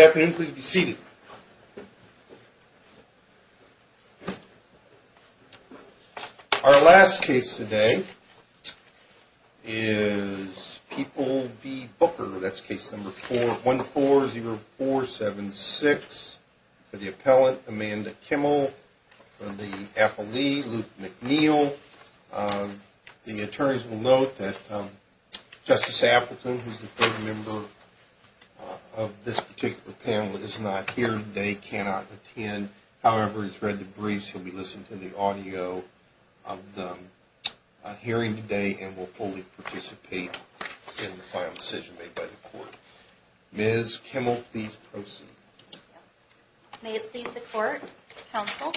Our last case today is People v. Booker. That's case number 140476 for the appellant Amanda Kimmel for the appellee Luke McNeil. The attorneys will note that Justice Atherton, who is a third member of this particular panel, is not here today, cannot attend. However, he's read the briefs, he'll be listening to the audio of the hearing today and will fully participate in the final decision made by the court. Ms. Kimmel, please proceed. May it please the court, counsel,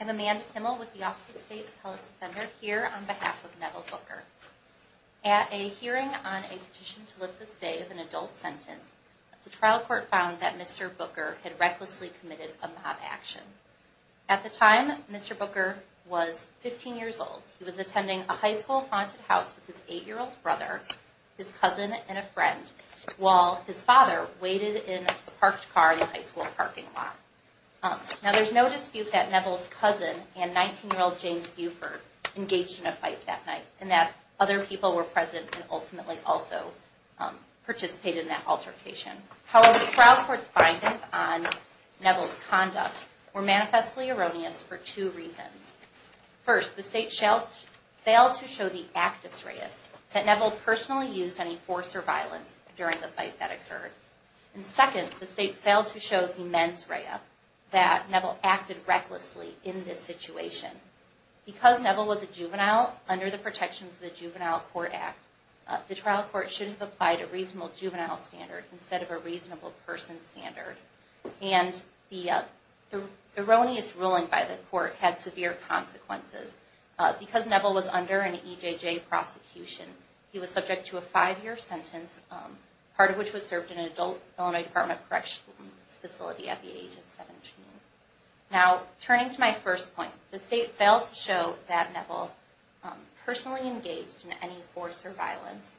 I'm Amanda Kimmel with the Office of State Appellate Defender here on behalf of Neville Booker. At a hearing on a petition to lift the stay of an adult sentence, the trial court found that Mr. Booker had recklessly committed a mob action. At the time, Mr. Booker was 15 years old. He was attending a high school haunted house with his 8-year-old brother, his cousin, and a friend, while his father waited in a parked car in the high school parking lot. Now, there's no dispute that Neville's cousin and 19-year-old James Buford engaged in a fight that night and that other people were present and ultimately also participated in that altercation. However, the trial court's findings on Neville's conduct were manifestly erroneous for two reasons. First, the state failed to show the actus reus that Neville personally used any force or violence during the fight that occurred. And second, the state failed to show the mens rea that Neville acted recklessly in this situation. Because Neville was a juvenile under the protections of the Juvenile Court Act, the trial court shouldn't have applied a reasonable juvenile standard instead of a reasonable person standard. And the erroneous ruling by the court had severe consequences. Because Neville was under an EJJ prosecution, he was subject to a 5-year sentence, part of which was served in an adult Illinois Department of Corrections facility at the age of 17. Now, turning to my first point, the state failed to show that Neville personally engaged in any force or violence.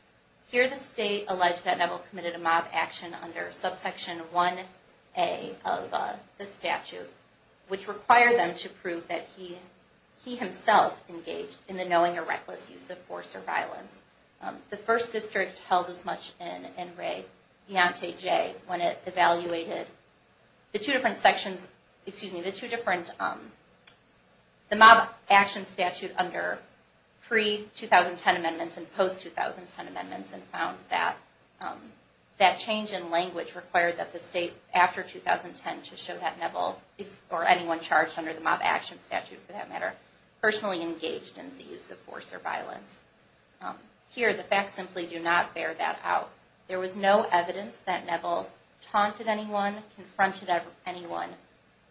Here the state alleged that Neville committed a mob action under subsection 1A of the statute, which required them to prove that he himself engaged in the knowing or reckless use of force or violence. The First District held as much in and rayed Deontay Jay when it evaluated the two different sections, excuse me, the two different, the mob action statute under pre-2010 amendments and post-2010 amendments and found that that change in language required that the state, after 2010, to show that Neville or anyone charged under the mob action statute, for that matter, personally engaged in the use of force or violence. Here the facts simply do not bear that out. There was no evidence that Neville taunted anyone, confronted anyone,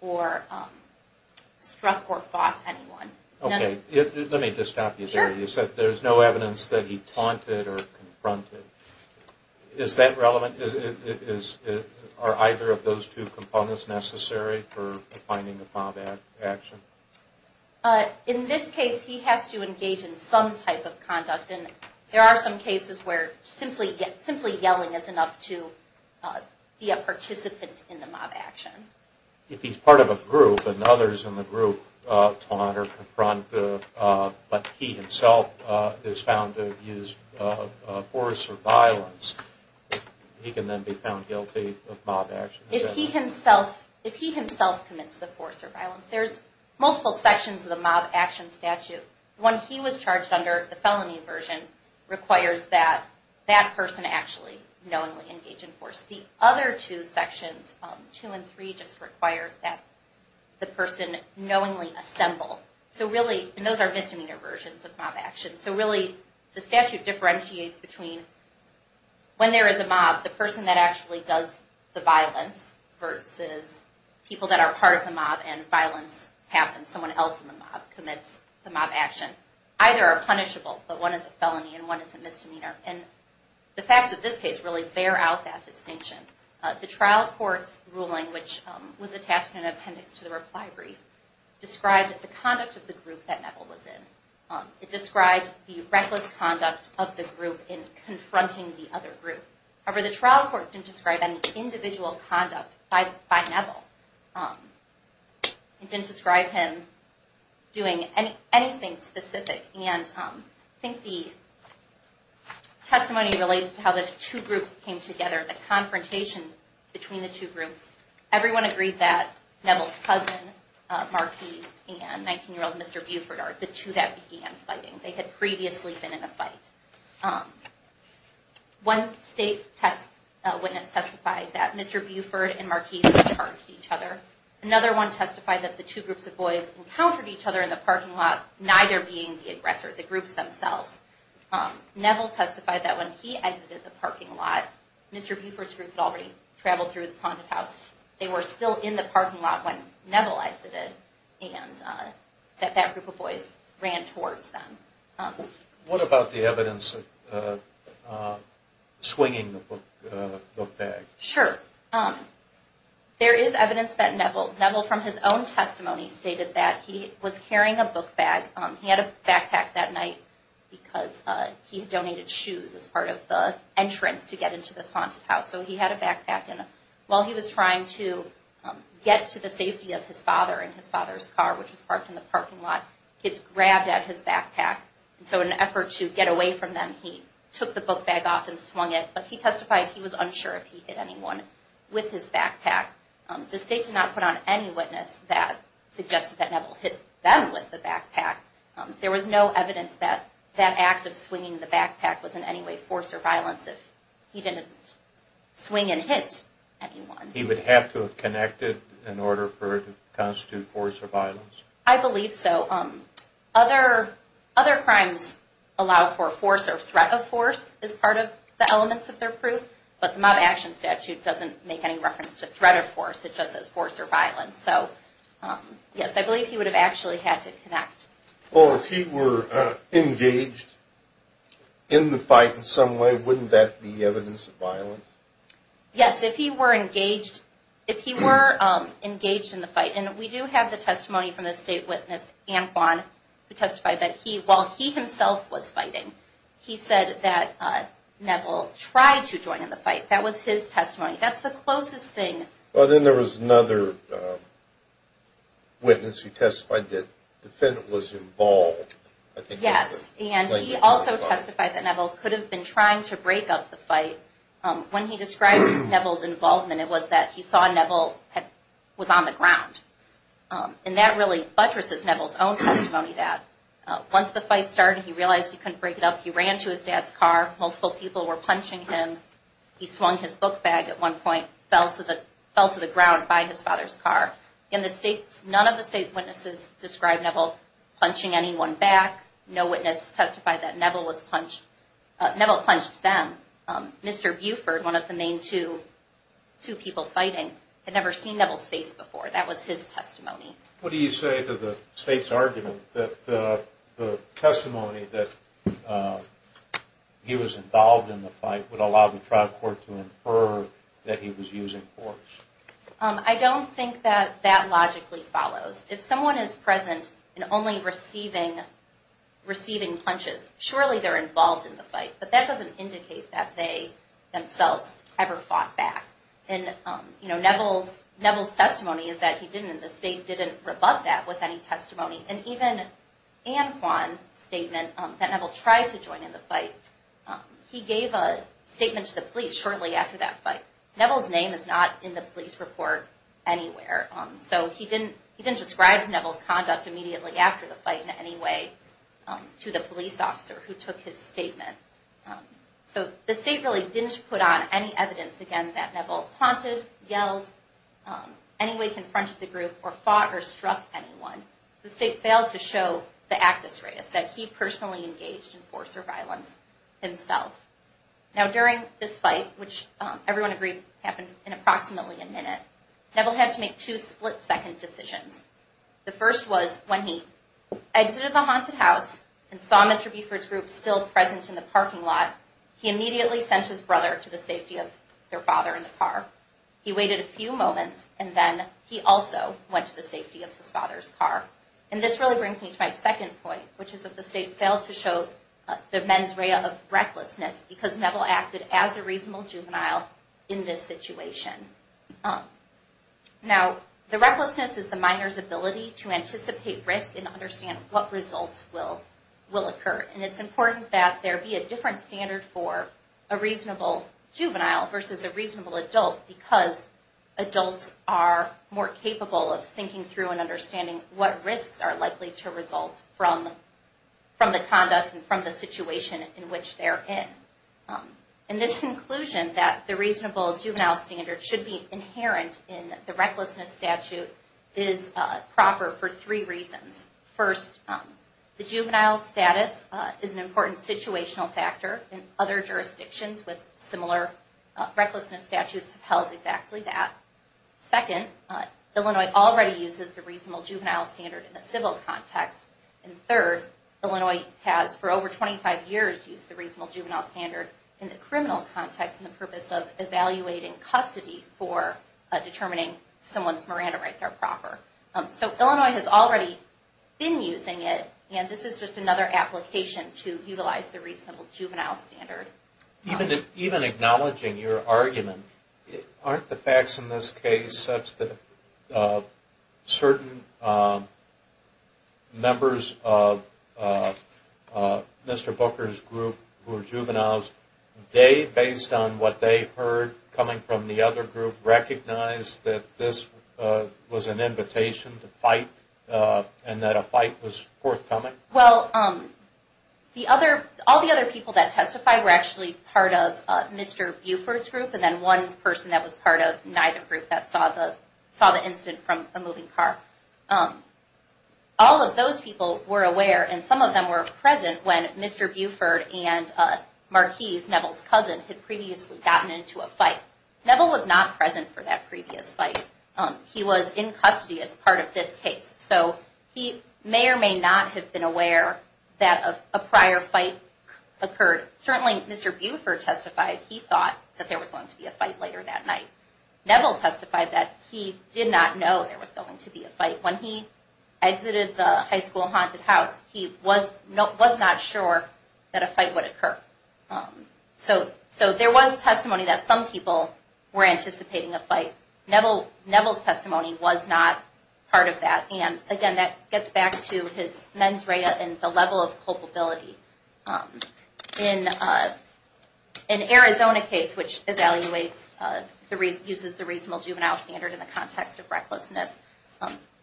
or struck or fought anyone. Okay, let me just stop you there. You said there's no evidence that he taunted or confronted. Is that relevant? Are either of those two components necessary for finding a mob action? In this case, he has to engage in some type of conduct and there are some cases where simply yelling is enough to be a participant in the mob action. If he's part of a group and others in the group taunt or confront, but he himself is found to engage in force or violence, he can then be found guilty of mob action. If he himself commits the force or violence, there's multiple sections of the mob action statute. One he was charged under, the felony version, requires that that person actually knowingly engage in force. The other two sections, two and three, just require that the person knowingly assemble. So really, and those are misdemeanor versions of mob action, so really the statute differentiates between when there is a mob, the person that actually does the violence versus people that are part of the mob and violence happens. Someone else in the mob commits the mob action. Either are punishable, but one is a felony and one is a misdemeanor. And the facts of this case really bear out that distinction. The trial court's ruling, which was attached in an appendix to the reply brief, described the conduct of the group that Neville was in. It described the reckless conduct of the group in confronting the other group. However, the trial court didn't describe any individual conduct by Neville. It didn't describe him doing anything specific. And I think the testimony related to how the two groups came together, the confrontation between the two groups, everyone agreed that Neville's cousin, Marquis, and 19-year-old Mr. Buford are the two that began fighting. One state witness testified that Mr. Buford and Marquis charged each other. Another one testified that the two groups of boys encountered each other in the parking lot, neither being the aggressor, the groups themselves. Neville testified that when he exited the parking lot, Mr. Buford's group had already traveled through the haunted house. They were still in the parking lot when Neville exited and that that group of boys ran towards them. What about the evidence swinging the book bag? Sure. There is evidence that Neville, from his own testimony, stated that he was carrying a book bag. He had a backpack that night because he had donated shoes as part of the entrance to get into the haunted house. So he had a backpack and while he was trying to get to the safety of his father in his father's car, which was parked in the parking lot, kids grabbed at his backpack. So in an effort to get away from them, he took the book bag off and swung it. But he testified he was unsure if he hit anyone with his backpack. The state did not put on any witness that suggested that Neville hit them with the backpack. There was no evidence that that act of swinging the backpack was in any way force or violence if he didn't swing and hit anyone. He would have to have connected in order for it to constitute force or violence? I believe so. Other crimes allow for force or threat of force as part of the elements of their proof, but the Mob Action Statute doesn't make any reference to threat of force. It just says force or violence. So yes, I believe he would have actually had to connect. Well, if he were engaged in the fight in some way, wouldn't that be evidence of violence? Yes, if he were engaged in the fight. And we do have the testimony from the state witness, Anquan, who testified that while he himself was fighting, he said that Neville tried to join in the fight. That was his testimony. That's the closest thing. Well, then there was another witness who testified that the defendant was involved. Yes, and he also testified that Neville could have been trying to break up the fight. When he described Neville's involvement, it was that he saw Neville was on the ground. And that really buttresses Neville's own testimony that once the fight started, he realized he couldn't break it up. He ran to his dad's car. Multiple people were punching him. He swung his book bag at one point, fell to the ground by his father's car. None of the state witnesses described Neville punching anyone back. No witness testified that Neville punched them. Mr. Buford, one of the main two people fighting, had never seen Neville's face before. That was his testimony. What do you say to the state's argument that the testimony that he was involved in the fight would allow the trial court to infer that he was using force? I don't think that that logically follows. If someone is present and only receiving punches, surely they're involved in the fight. But that doesn't indicate that they themselves ever fought back. And Neville's testimony is that he didn't, and the state didn't rebut that with any testimony. And even Anne Kwan's statement that Neville tried to join in the fight, he gave a statement to the police shortly after that fight. Neville's name is not in the police report anywhere. So he didn't describe Neville's conduct immediately after the fight in any way to the police officer who took his statement. So the state really didn't put on any evidence, again, that Neville taunted, yelled, any way confronted the group, or fought or struck anyone. The state failed to show the actus reus, that he personally engaged in force or violence himself. Now, during this fight, which everyone agreed happened in approximately a minute, Neville had to make two split-second decisions. The first was when he exited the haunted house and saw Mr. Buford's group still present in the parking lot, he immediately sent his brother to the safety of their father in the car. He waited a few moments, and then he also went to the safety of his father's car. And this really brings me to my second point, which is that the state failed to show the mens rea of recklessness because Neville acted as a reasonable juvenile in this situation. Now, the recklessness is the minor's ability to anticipate risk and understand what results will occur. And it's important that there be a different standard for a reasonable juvenile versus a reasonable adult because adults are more capable of thinking through and understanding what risks are likely to result from the conduct and from the situation in which they're in. And this conclusion that the reasonable juvenile standard should be inherent in the recklessness statute is proper for three reasons. First, the juvenile status is an important situational factor, and other jurisdictions with similar recklessness statutes have held exactly that. Second, Illinois already uses the reasonable juvenile standard in the civil context. And third, Illinois has for over 25 years used the reasonable juvenile standard in the criminal context in the purpose of evaluating custody for determining if someone's Miranda rights are proper. So Illinois has already been using it, and this is just another application to utilize the reasonable juvenile standard. Even acknowledging your argument, aren't the facts in this case such that certain members of Mr. Booker's group who are juveniles, they, based on what they heard coming from the other group, recognize that this was an invitation to fight and that a fight was forthcoming? Well, all the other people that testified were actually part of Mr. Buford's group, and then one person that was part of neither group that saw the incident from a moving car. All of those people were aware, and some of them were present when Mr. Buford and Marquis, Neville's cousin, had previously gotten into a fight. Neville was not present for that previous fight. He was in custody as part of this case. So he may or may not have been aware that a prior fight occurred. Certainly Mr. Buford testified he thought that there was going to be a fight later that night. Neville testified that he did not know there was going to be a fight. When he exited the high school haunted house, he was not sure that a fight would occur. So there was testimony that some people were anticipating a fight. Neville's testimony was not part of that, and again that gets back to his mens rea and the level of culpability. In an Arizona case which uses the reasonable juvenile standard in the context of recklessness,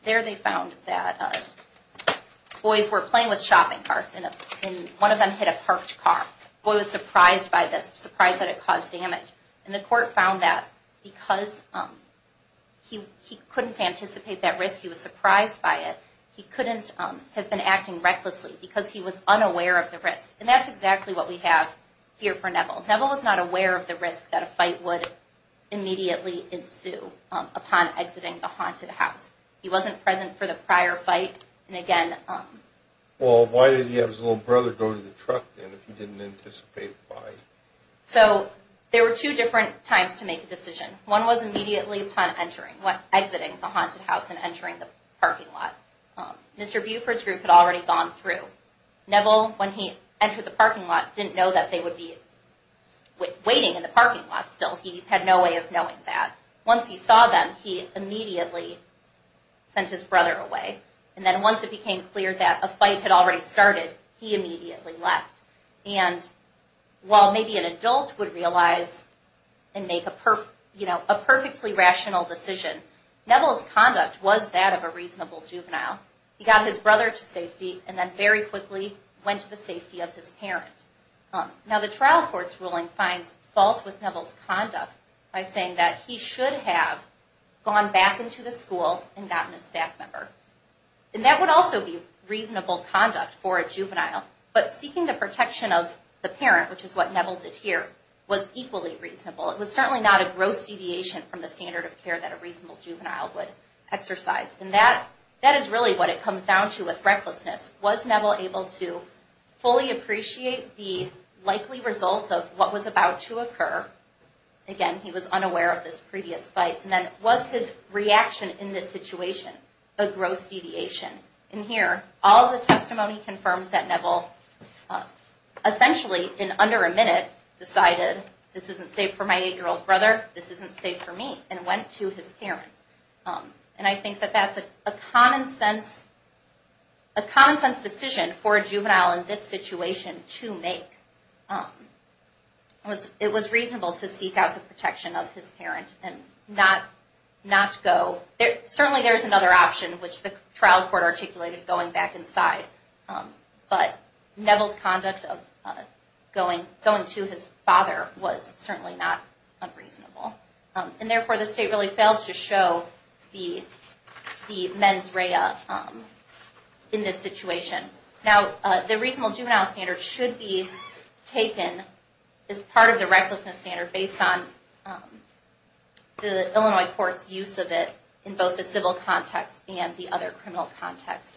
there they found that boys were playing with shopping carts, and one of them hit a parked car. The boy was surprised by this, surprised that it caused damage. And the court found that because he couldn't anticipate that risk, he was surprised by it, he couldn't have been acting recklessly because he was unaware of the risk. And that's exactly what we have here for Neville. Neville was not aware of the risk that a fight would immediately ensue upon exiting the haunted house. He wasn't present for the prior fight, and again... Well, why did he have his little brother go to the truck then if he didn't anticipate a fight? So there were two different times to make a decision. One was immediately upon entering, exiting the haunted house and entering the parking lot. Mr. Buford's group had already gone through. Neville, when he entered the parking lot, didn't know that they would be waiting in the parking lot still. He had no way of knowing that. Once he saw them, he immediately sent his brother away. And then once it became clear that a fight had already started, he immediately left. And while maybe an adult would realize and make a perfectly rational decision, Neville's conduct was that of a reasonable juvenile. He got his brother to safety and then very quickly went to the safety of his parent. Now the trial court's ruling finds fault with Neville's conduct by saying that he should have gone back into the school and gotten a staff member. And that would also be reasonable conduct for a juvenile. But seeking the protection of the parent, which is what Neville did here, was equally reasonable. It was certainly not a gross deviation from the standard of care that a reasonable juvenile would exercise. And that is really what it comes down to with recklessness. Was Neville able to fully appreciate the likely results of what was about to occur? Again, he was unaware of this previous fight. And then was his reaction in this situation a gross deviation? In here, all the testimony confirms that Neville essentially in under a minute decided, this isn't safe for my 8-year-old brother, this isn't safe for me, and went to his parent. And I think that that's a common sense decision for a juvenile in this situation to make. It was reasonable to seek out the protection of his parent and not go. Certainly there's another option, which the trial court articulated, going back inside. But Neville's conduct of going to his father was certainly not unreasonable. And therefore, the state really failed to show the mens rea in this situation. Now, the reasonable juvenile standard should be taken as part of the recklessness standard based on the Illinois court's use of it in both the civil context and the other criminal context.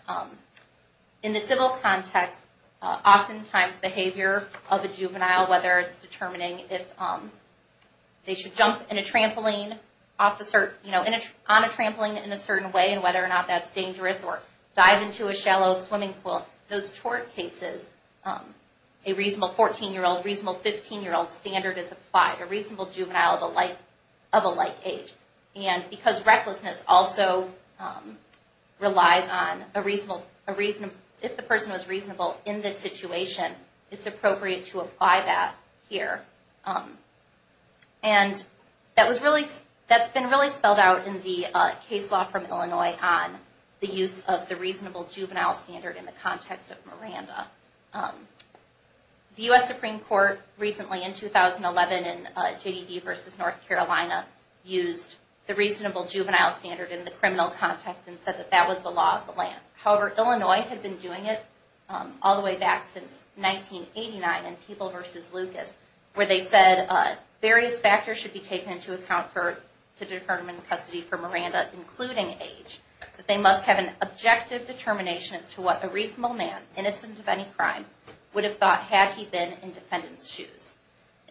In the civil context, oftentimes behavior of a juvenile, whether it's determining if they should jump on a trampoline in a certain way and whether or not that's dangerous, or dive into a shallow swimming pool, those tort cases, a reasonable 14-year-old, reasonable 15-year-old standard is applied. A reasonable juvenile of a like age. And because recklessness also relies on, if the person was reasonable in this situation, it's appropriate to apply that here. And that's been really spelled out in the case law from Illinois on the use of the reasonable juvenile standard in the context of Miranda. The U.S. Supreme Court recently, in 2011, in J.D. v. North Carolina, used the reasonable juvenile standard in the criminal context and said that that was the law of the land. However, Illinois had been doing it all the way back since 1989 in People v. Lucas, where they said various factors should be taken into account to determine custody for Miranda, including age, that they must have an objective determination as to what a reasonable man, innocent of any crime, would have thought had he been in defendant's shoes.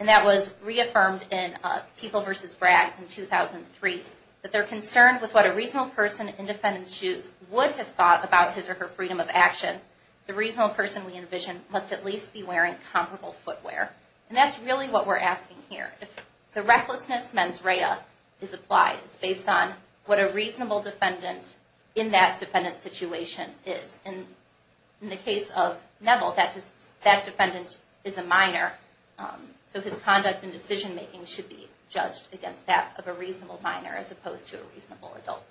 And that was reaffirmed in People v. Braggs in 2003, that they're concerned with what a reasonable person in defendant's shoes would have thought about his or her freedom of action. The reasonable person, we envision, must at least be wearing comparable footwear. And that's really what we're asking here. If the recklessness mens rea is applied, it's based on what a reasonable defendant in that defendant's situation is. And in the case of Neville, that defendant is a minor, so his conduct and decision-making should be judged against that of a reasonable minor as opposed to a reasonable adult.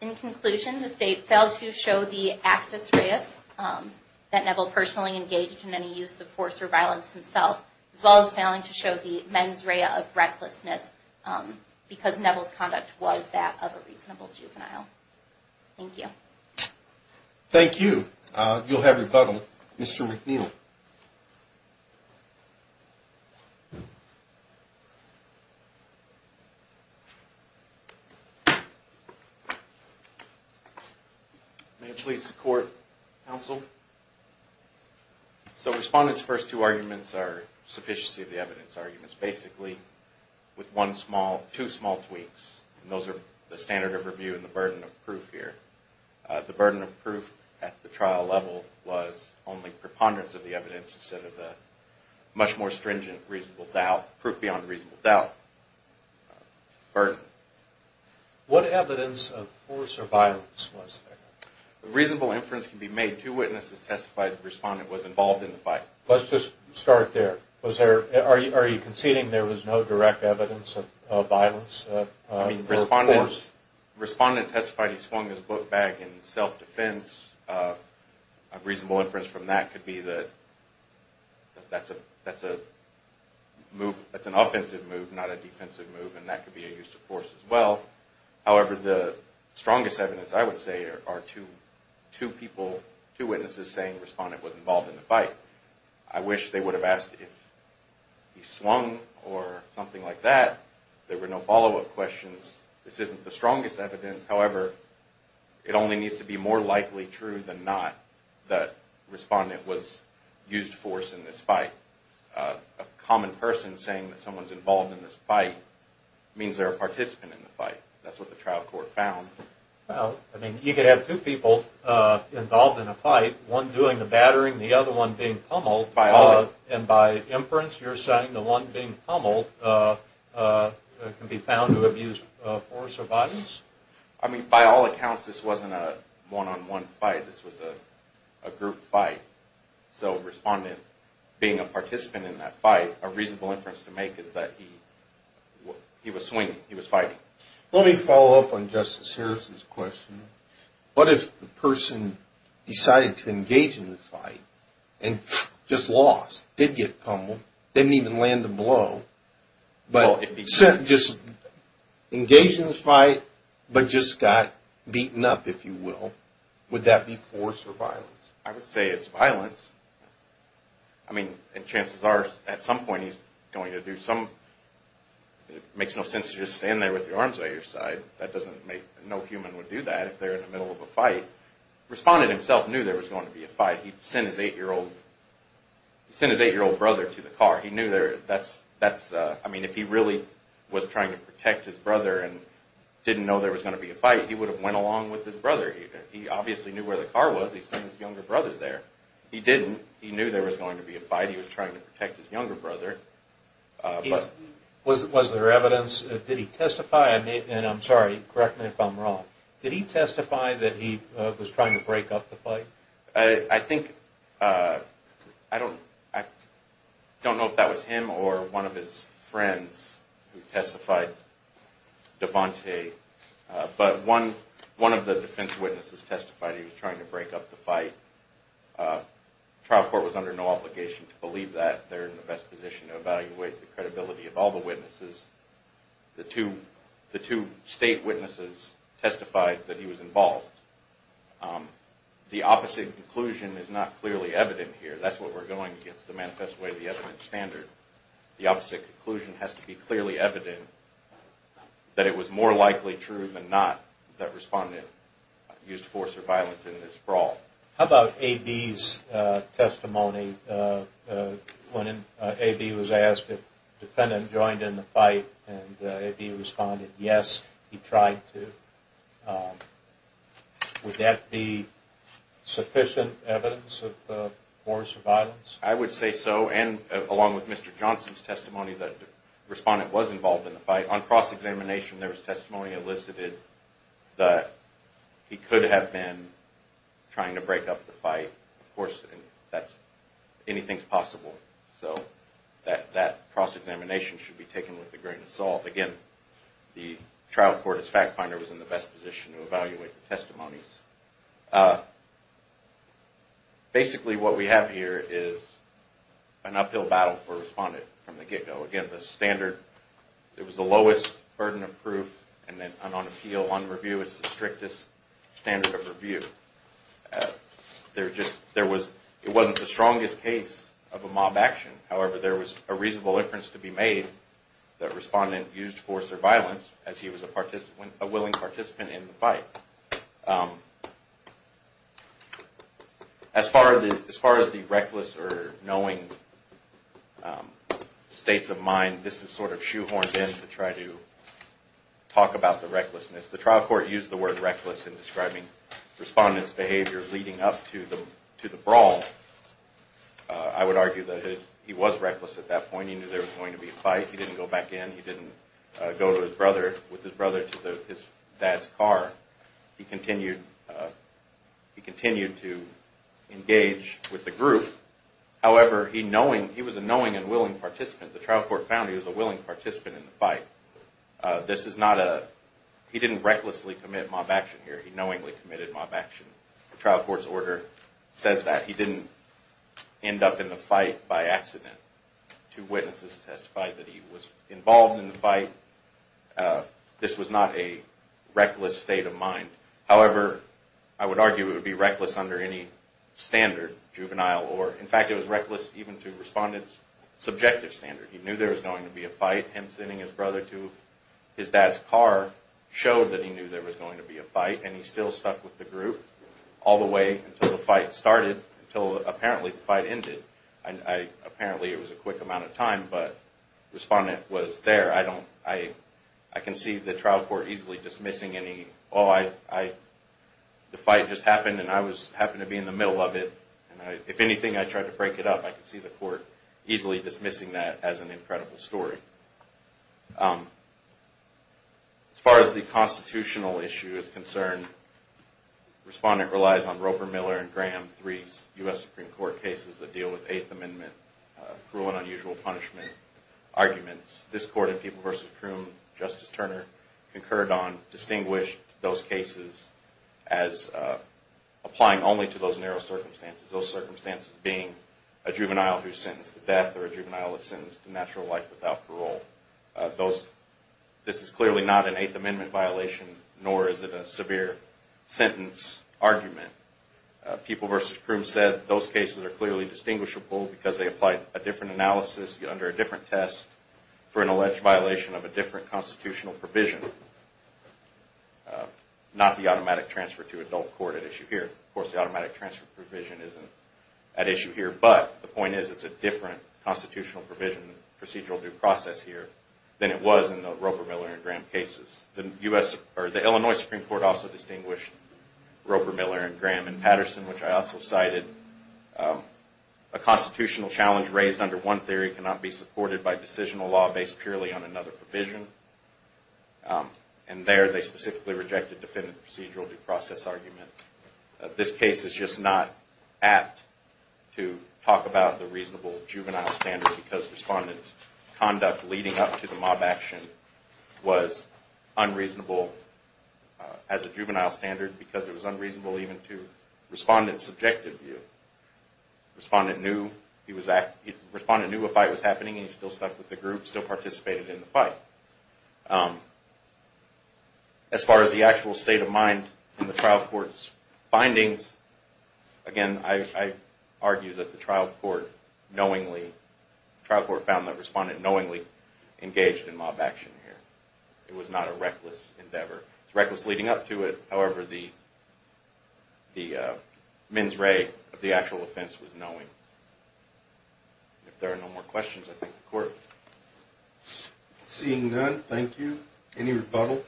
In conclusion, the state failed to show the actus reus that Neville personally engaged in any use of force or violence himself, as well as failing to show the mens rea of recklessness because Neville's conduct was that of a reasonable juvenile. Thank you. Thank you. You'll have your button, Mr. McNeil. May it please the Court, Counsel? So Respondent's first two arguments are sufficiency of the evidence arguments. Basically, with two small tweaks, and those are the standard of review and the burden of proof here. The burden of proof at the trial level was only preponderance of the evidence instead of the much more stringent proof beyond reasonable doubt. Pardon? What evidence of force or violence was there? Reasonable inference can be made. Two witnesses testified the Respondent was involved in the fight. Let's just start there. Are you conceding there was no direct evidence of violence or force? Respondent testified he swung his book bag in self-defense. A reasonable inference from that could be that that's an offensive move, not a defensive move, and that could be a use of force as well. However, the strongest evidence, I would say, are two witnesses saying Respondent was involved in the fight. I wish they would have asked if he swung or something like that. There were no follow-up questions. This isn't the strongest evidence. However, it only needs to be more likely true than not that Respondent used force in this fight. A common person saying that someone's involved in this fight means they're a participant in the fight. That's what the trial court found. You could have two people involved in a fight, one doing the battering, the other one being pummeled. And by inference, you're saying the one being pummeled can be found to have used force or violence? I mean, by all accounts, this wasn't a one-on-one fight. This was a group fight. So Respondent being a participant in that fight, a reasonable inference to make is that he was swinging. He was fighting. Let me follow up on Justice Harris's question. What if the person decided to engage in the fight and just lost, did get pummeled, didn't even land a blow, but just engaged in the fight but just got beaten up, if you will? Would that be force or violence? I would say it's violence. I mean, and chances are at some point he's going to do some – it makes no sense to just stand there with your arms by your side. No human would do that if they're in the middle of a fight. Respondent himself knew there was going to be a fight. He'd sent his eight-year-old brother to the car. He knew that's – I mean, if he really was trying to protect his brother and didn't know there was going to be a fight, he would have went along with his brother. He obviously knew where the car was. He sent his younger brother there. He didn't. He knew there was going to be a fight. He was trying to protect his younger brother. Was there evidence? Did he testify? And I'm sorry, correct me if I'm wrong. Did he testify that he was trying to break up the fight? I think – I don't know if that was him or one of his friends who testified, DeVante, but one of the defense witnesses testified he was trying to break up the fight. The trial court was under no obligation to believe that. They're in the best position to evaluate the credibility of all the witnesses. The two state witnesses testified that he was involved. The opposite conclusion is not clearly evident here. That's where we're going against the manifest way of the evidence standard. The opposite conclusion has to be clearly evident that it was more likely true than not that respondent used force or violence in this brawl. How about A.B.'s testimony when A.B. was asked if the defendant joined in the fight and A.B. responded yes, he tried to. Would that be sufficient evidence of force or violence? I would say so. And along with Mr. Johnson's testimony, the respondent was involved in the fight. On cross-examination, there was testimony elicited that he could have been trying to break up the fight. Of course, anything's possible. So that cross-examination should be taken with a grain of salt. Again, the trial court, as fact finder, was in the best position to evaluate the testimonies. Basically, what we have here is an uphill battle for a respondent from the get-go. Again, it was the lowest burden of proof, and on appeal, on review, it's the strictest standard of review. It wasn't the strongest case of a mob action. However, there was a reasonable inference to be made that a respondent used force or violence as he was a willing participant in the fight. As far as the reckless or knowing states of mind, this is sort of shoehorned in to try to talk about the recklessness. The trial court used the word reckless in describing the respondent's behavior leading up to the brawl. I would argue that he was reckless at that point. He knew there was going to be a fight. He didn't go back in. He didn't go with his brother to his dad's car. He continued to engage with the group. However, he was a knowing and willing participant. The trial court found he was a willing participant in the fight. He didn't recklessly commit mob action here. He knowingly committed mob action. The trial court's order says that. He didn't end up in the fight by accident. Two witnesses testified that he was involved in the fight. This was not a reckless state of mind. However, I would argue it would be reckless under any standard, juvenile or... In fact, it was reckless even to respondent's subjective standard. He knew there was going to be a fight. Him sending his brother to his dad's car showed that he knew there was going to be a fight, and he still stuck with the group all the way until the fight started, until apparently the fight ended. Apparently, it was a quick amount of time, but the respondent was there. I can see the trial court easily dismissing any, oh, the fight just happened, and I happened to be in the middle of it. If anything, I tried to break it up. I can see the court easily dismissing that as an incredible story. As far as the constitutional issue is concerned, respondent relies on Roper, Miller, and Graham III's U.S. Supreme Court cases that deal with Eighth Amendment cruel and unusual punishment arguments. This court in People v. Croom, Justice Turner, concurred on distinguished those cases as applying only to those narrow circumstances, those circumstances being a juvenile who's sentenced to death or a juvenile who's sentenced to natural life without parole. This is clearly not an Eighth Amendment violation, nor is it a severe sentence argument. People v. Croom said those cases are clearly distinguishable because they applied a different analysis under a different test for an alleged violation of a different constitutional provision, not the automatic transfer to adult court at issue here. Of course, the automatic transfer provision isn't at issue here, but the point is it's a different constitutional provision, procedural due process here, than it was in the Roper, Miller, and Graham cases. The Illinois Supreme Court also distinguished Roper, Miller, and Graham and Patterson, which I also cited, a constitutional challenge raised under one theory cannot be supported by decisional law based purely on another provision, and there they specifically rejected defendant's procedural due process argument. This case is just not apt to talk about the reasonable juvenile standard because respondent's conduct leading up to the mob action was unreasonable as a juvenile standard because it was unreasonable even to respondent's subjective view. Respondent knew a fight was happening and he still stuck with the group, still participated in the fight. As far as the actual state of mind in the trial court's findings, again, I argue that the trial court found that respondent knowingly engaged in mob action here. It was not a reckless endeavor. It was reckless leading up to it. However, the mens rea of the actual offense was knowing. If there are no more questions, I think the court is adjourned. Seeing none, thank you. Any rebuttal?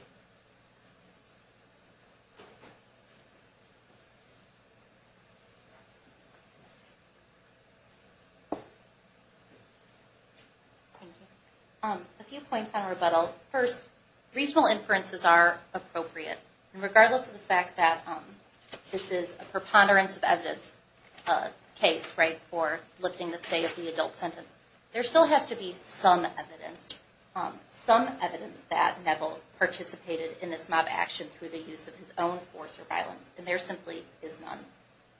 A few points on rebuttal. First, reasonable inferences are appropriate. Regardless of the fact that this is a preponderance of evidence case for lifting the state of the adult sentence, there still has to be some evidence, some evidence that Neville participated in this mob action through the use of his own force or violence, and there simply is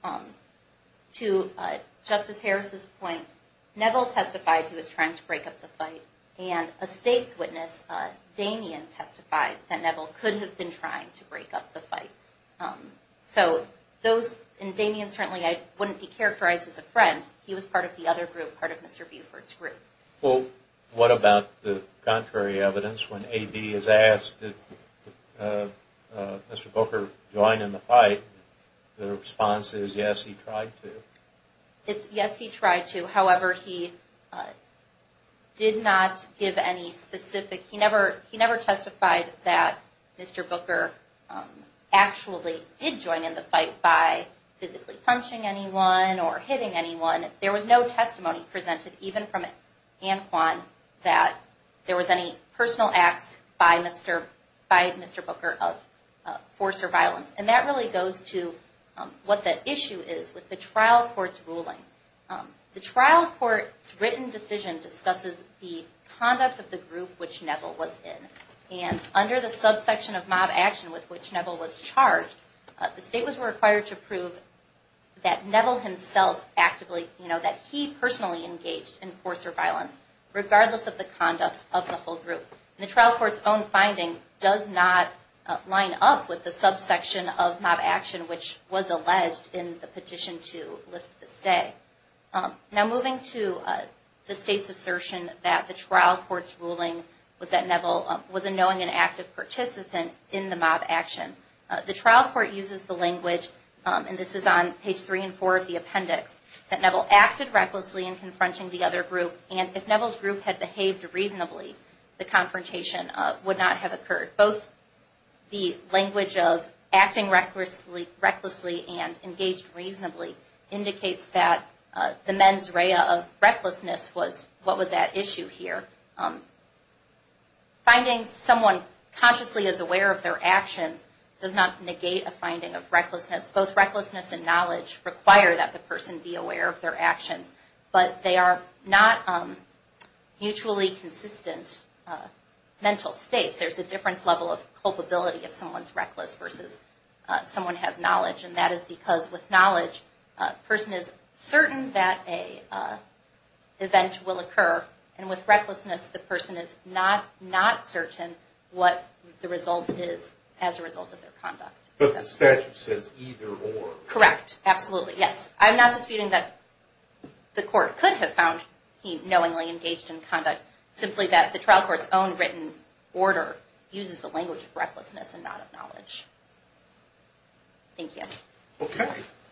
none. To Justice Harris's point, Neville testified he was trying to break up the fight, and a state's witness, Damien, testified that Neville could have been trying to break up the fight. So those, and Damien certainly wouldn't be characterized as a friend. He was part of the other group, part of Mr. Buford's group. Well, what about the contrary evidence? When A.D. is asked, did Mr. Booker join in the fight, the response is, yes, he tried to. It's, yes, he tried to. However, he did not give any specific, he never testified that Mr. Booker actually did join in the fight by physically punching anyone or hitting anyone. There was no testimony presented, even from Anne Kwan, that there was any personal acts by Mr. Booker of force or violence. And that really goes to what the issue is with the trial court's ruling. The trial court's written decision discusses the conduct of the group which Neville was in. And under the subsection of mob action with which Neville was charged, the state was required to prove that Neville himself actively, you know, that he personally engaged in force or violence, regardless of the conduct of the whole group. And the trial court's own finding does not line up with the subsection of mob action which was alleged in the petition to lift the stay. Now, moving to the state's assertion that the trial court's ruling was that Neville was a knowing and active participant in the mob action. The trial court uses the language, and this is on page three and four of the appendix, that Neville acted recklessly in confronting the other group, and if Neville's group had behaved reasonably, the confrontation would not have occurred. Both the language of acting recklessly and engaged reasonably indicates that the mens rea of recklessness was, what was that issue here? Finding someone consciously is aware of their actions does not negate a finding of recklessness. Both recklessness and knowledge require that the person be aware of their actions, but they are not mutually consistent mental states. There's a difference level of culpability if someone's reckless versus someone has knowledge, and that is because with knowledge, a person is certain that an event will occur, and with recklessness, the person is not certain what the result is as a result of their conduct. But the statute says either or. Correct, absolutely, yes. I'm not disputing that the court could have found he knowingly engaged in conduct, but simply that the trial court's own written order uses the language of recklessness and not of knowledge. Thank you. Okay.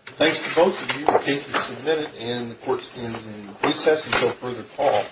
Thanks to both of you. The case is submitted and the court stands in recess until further call.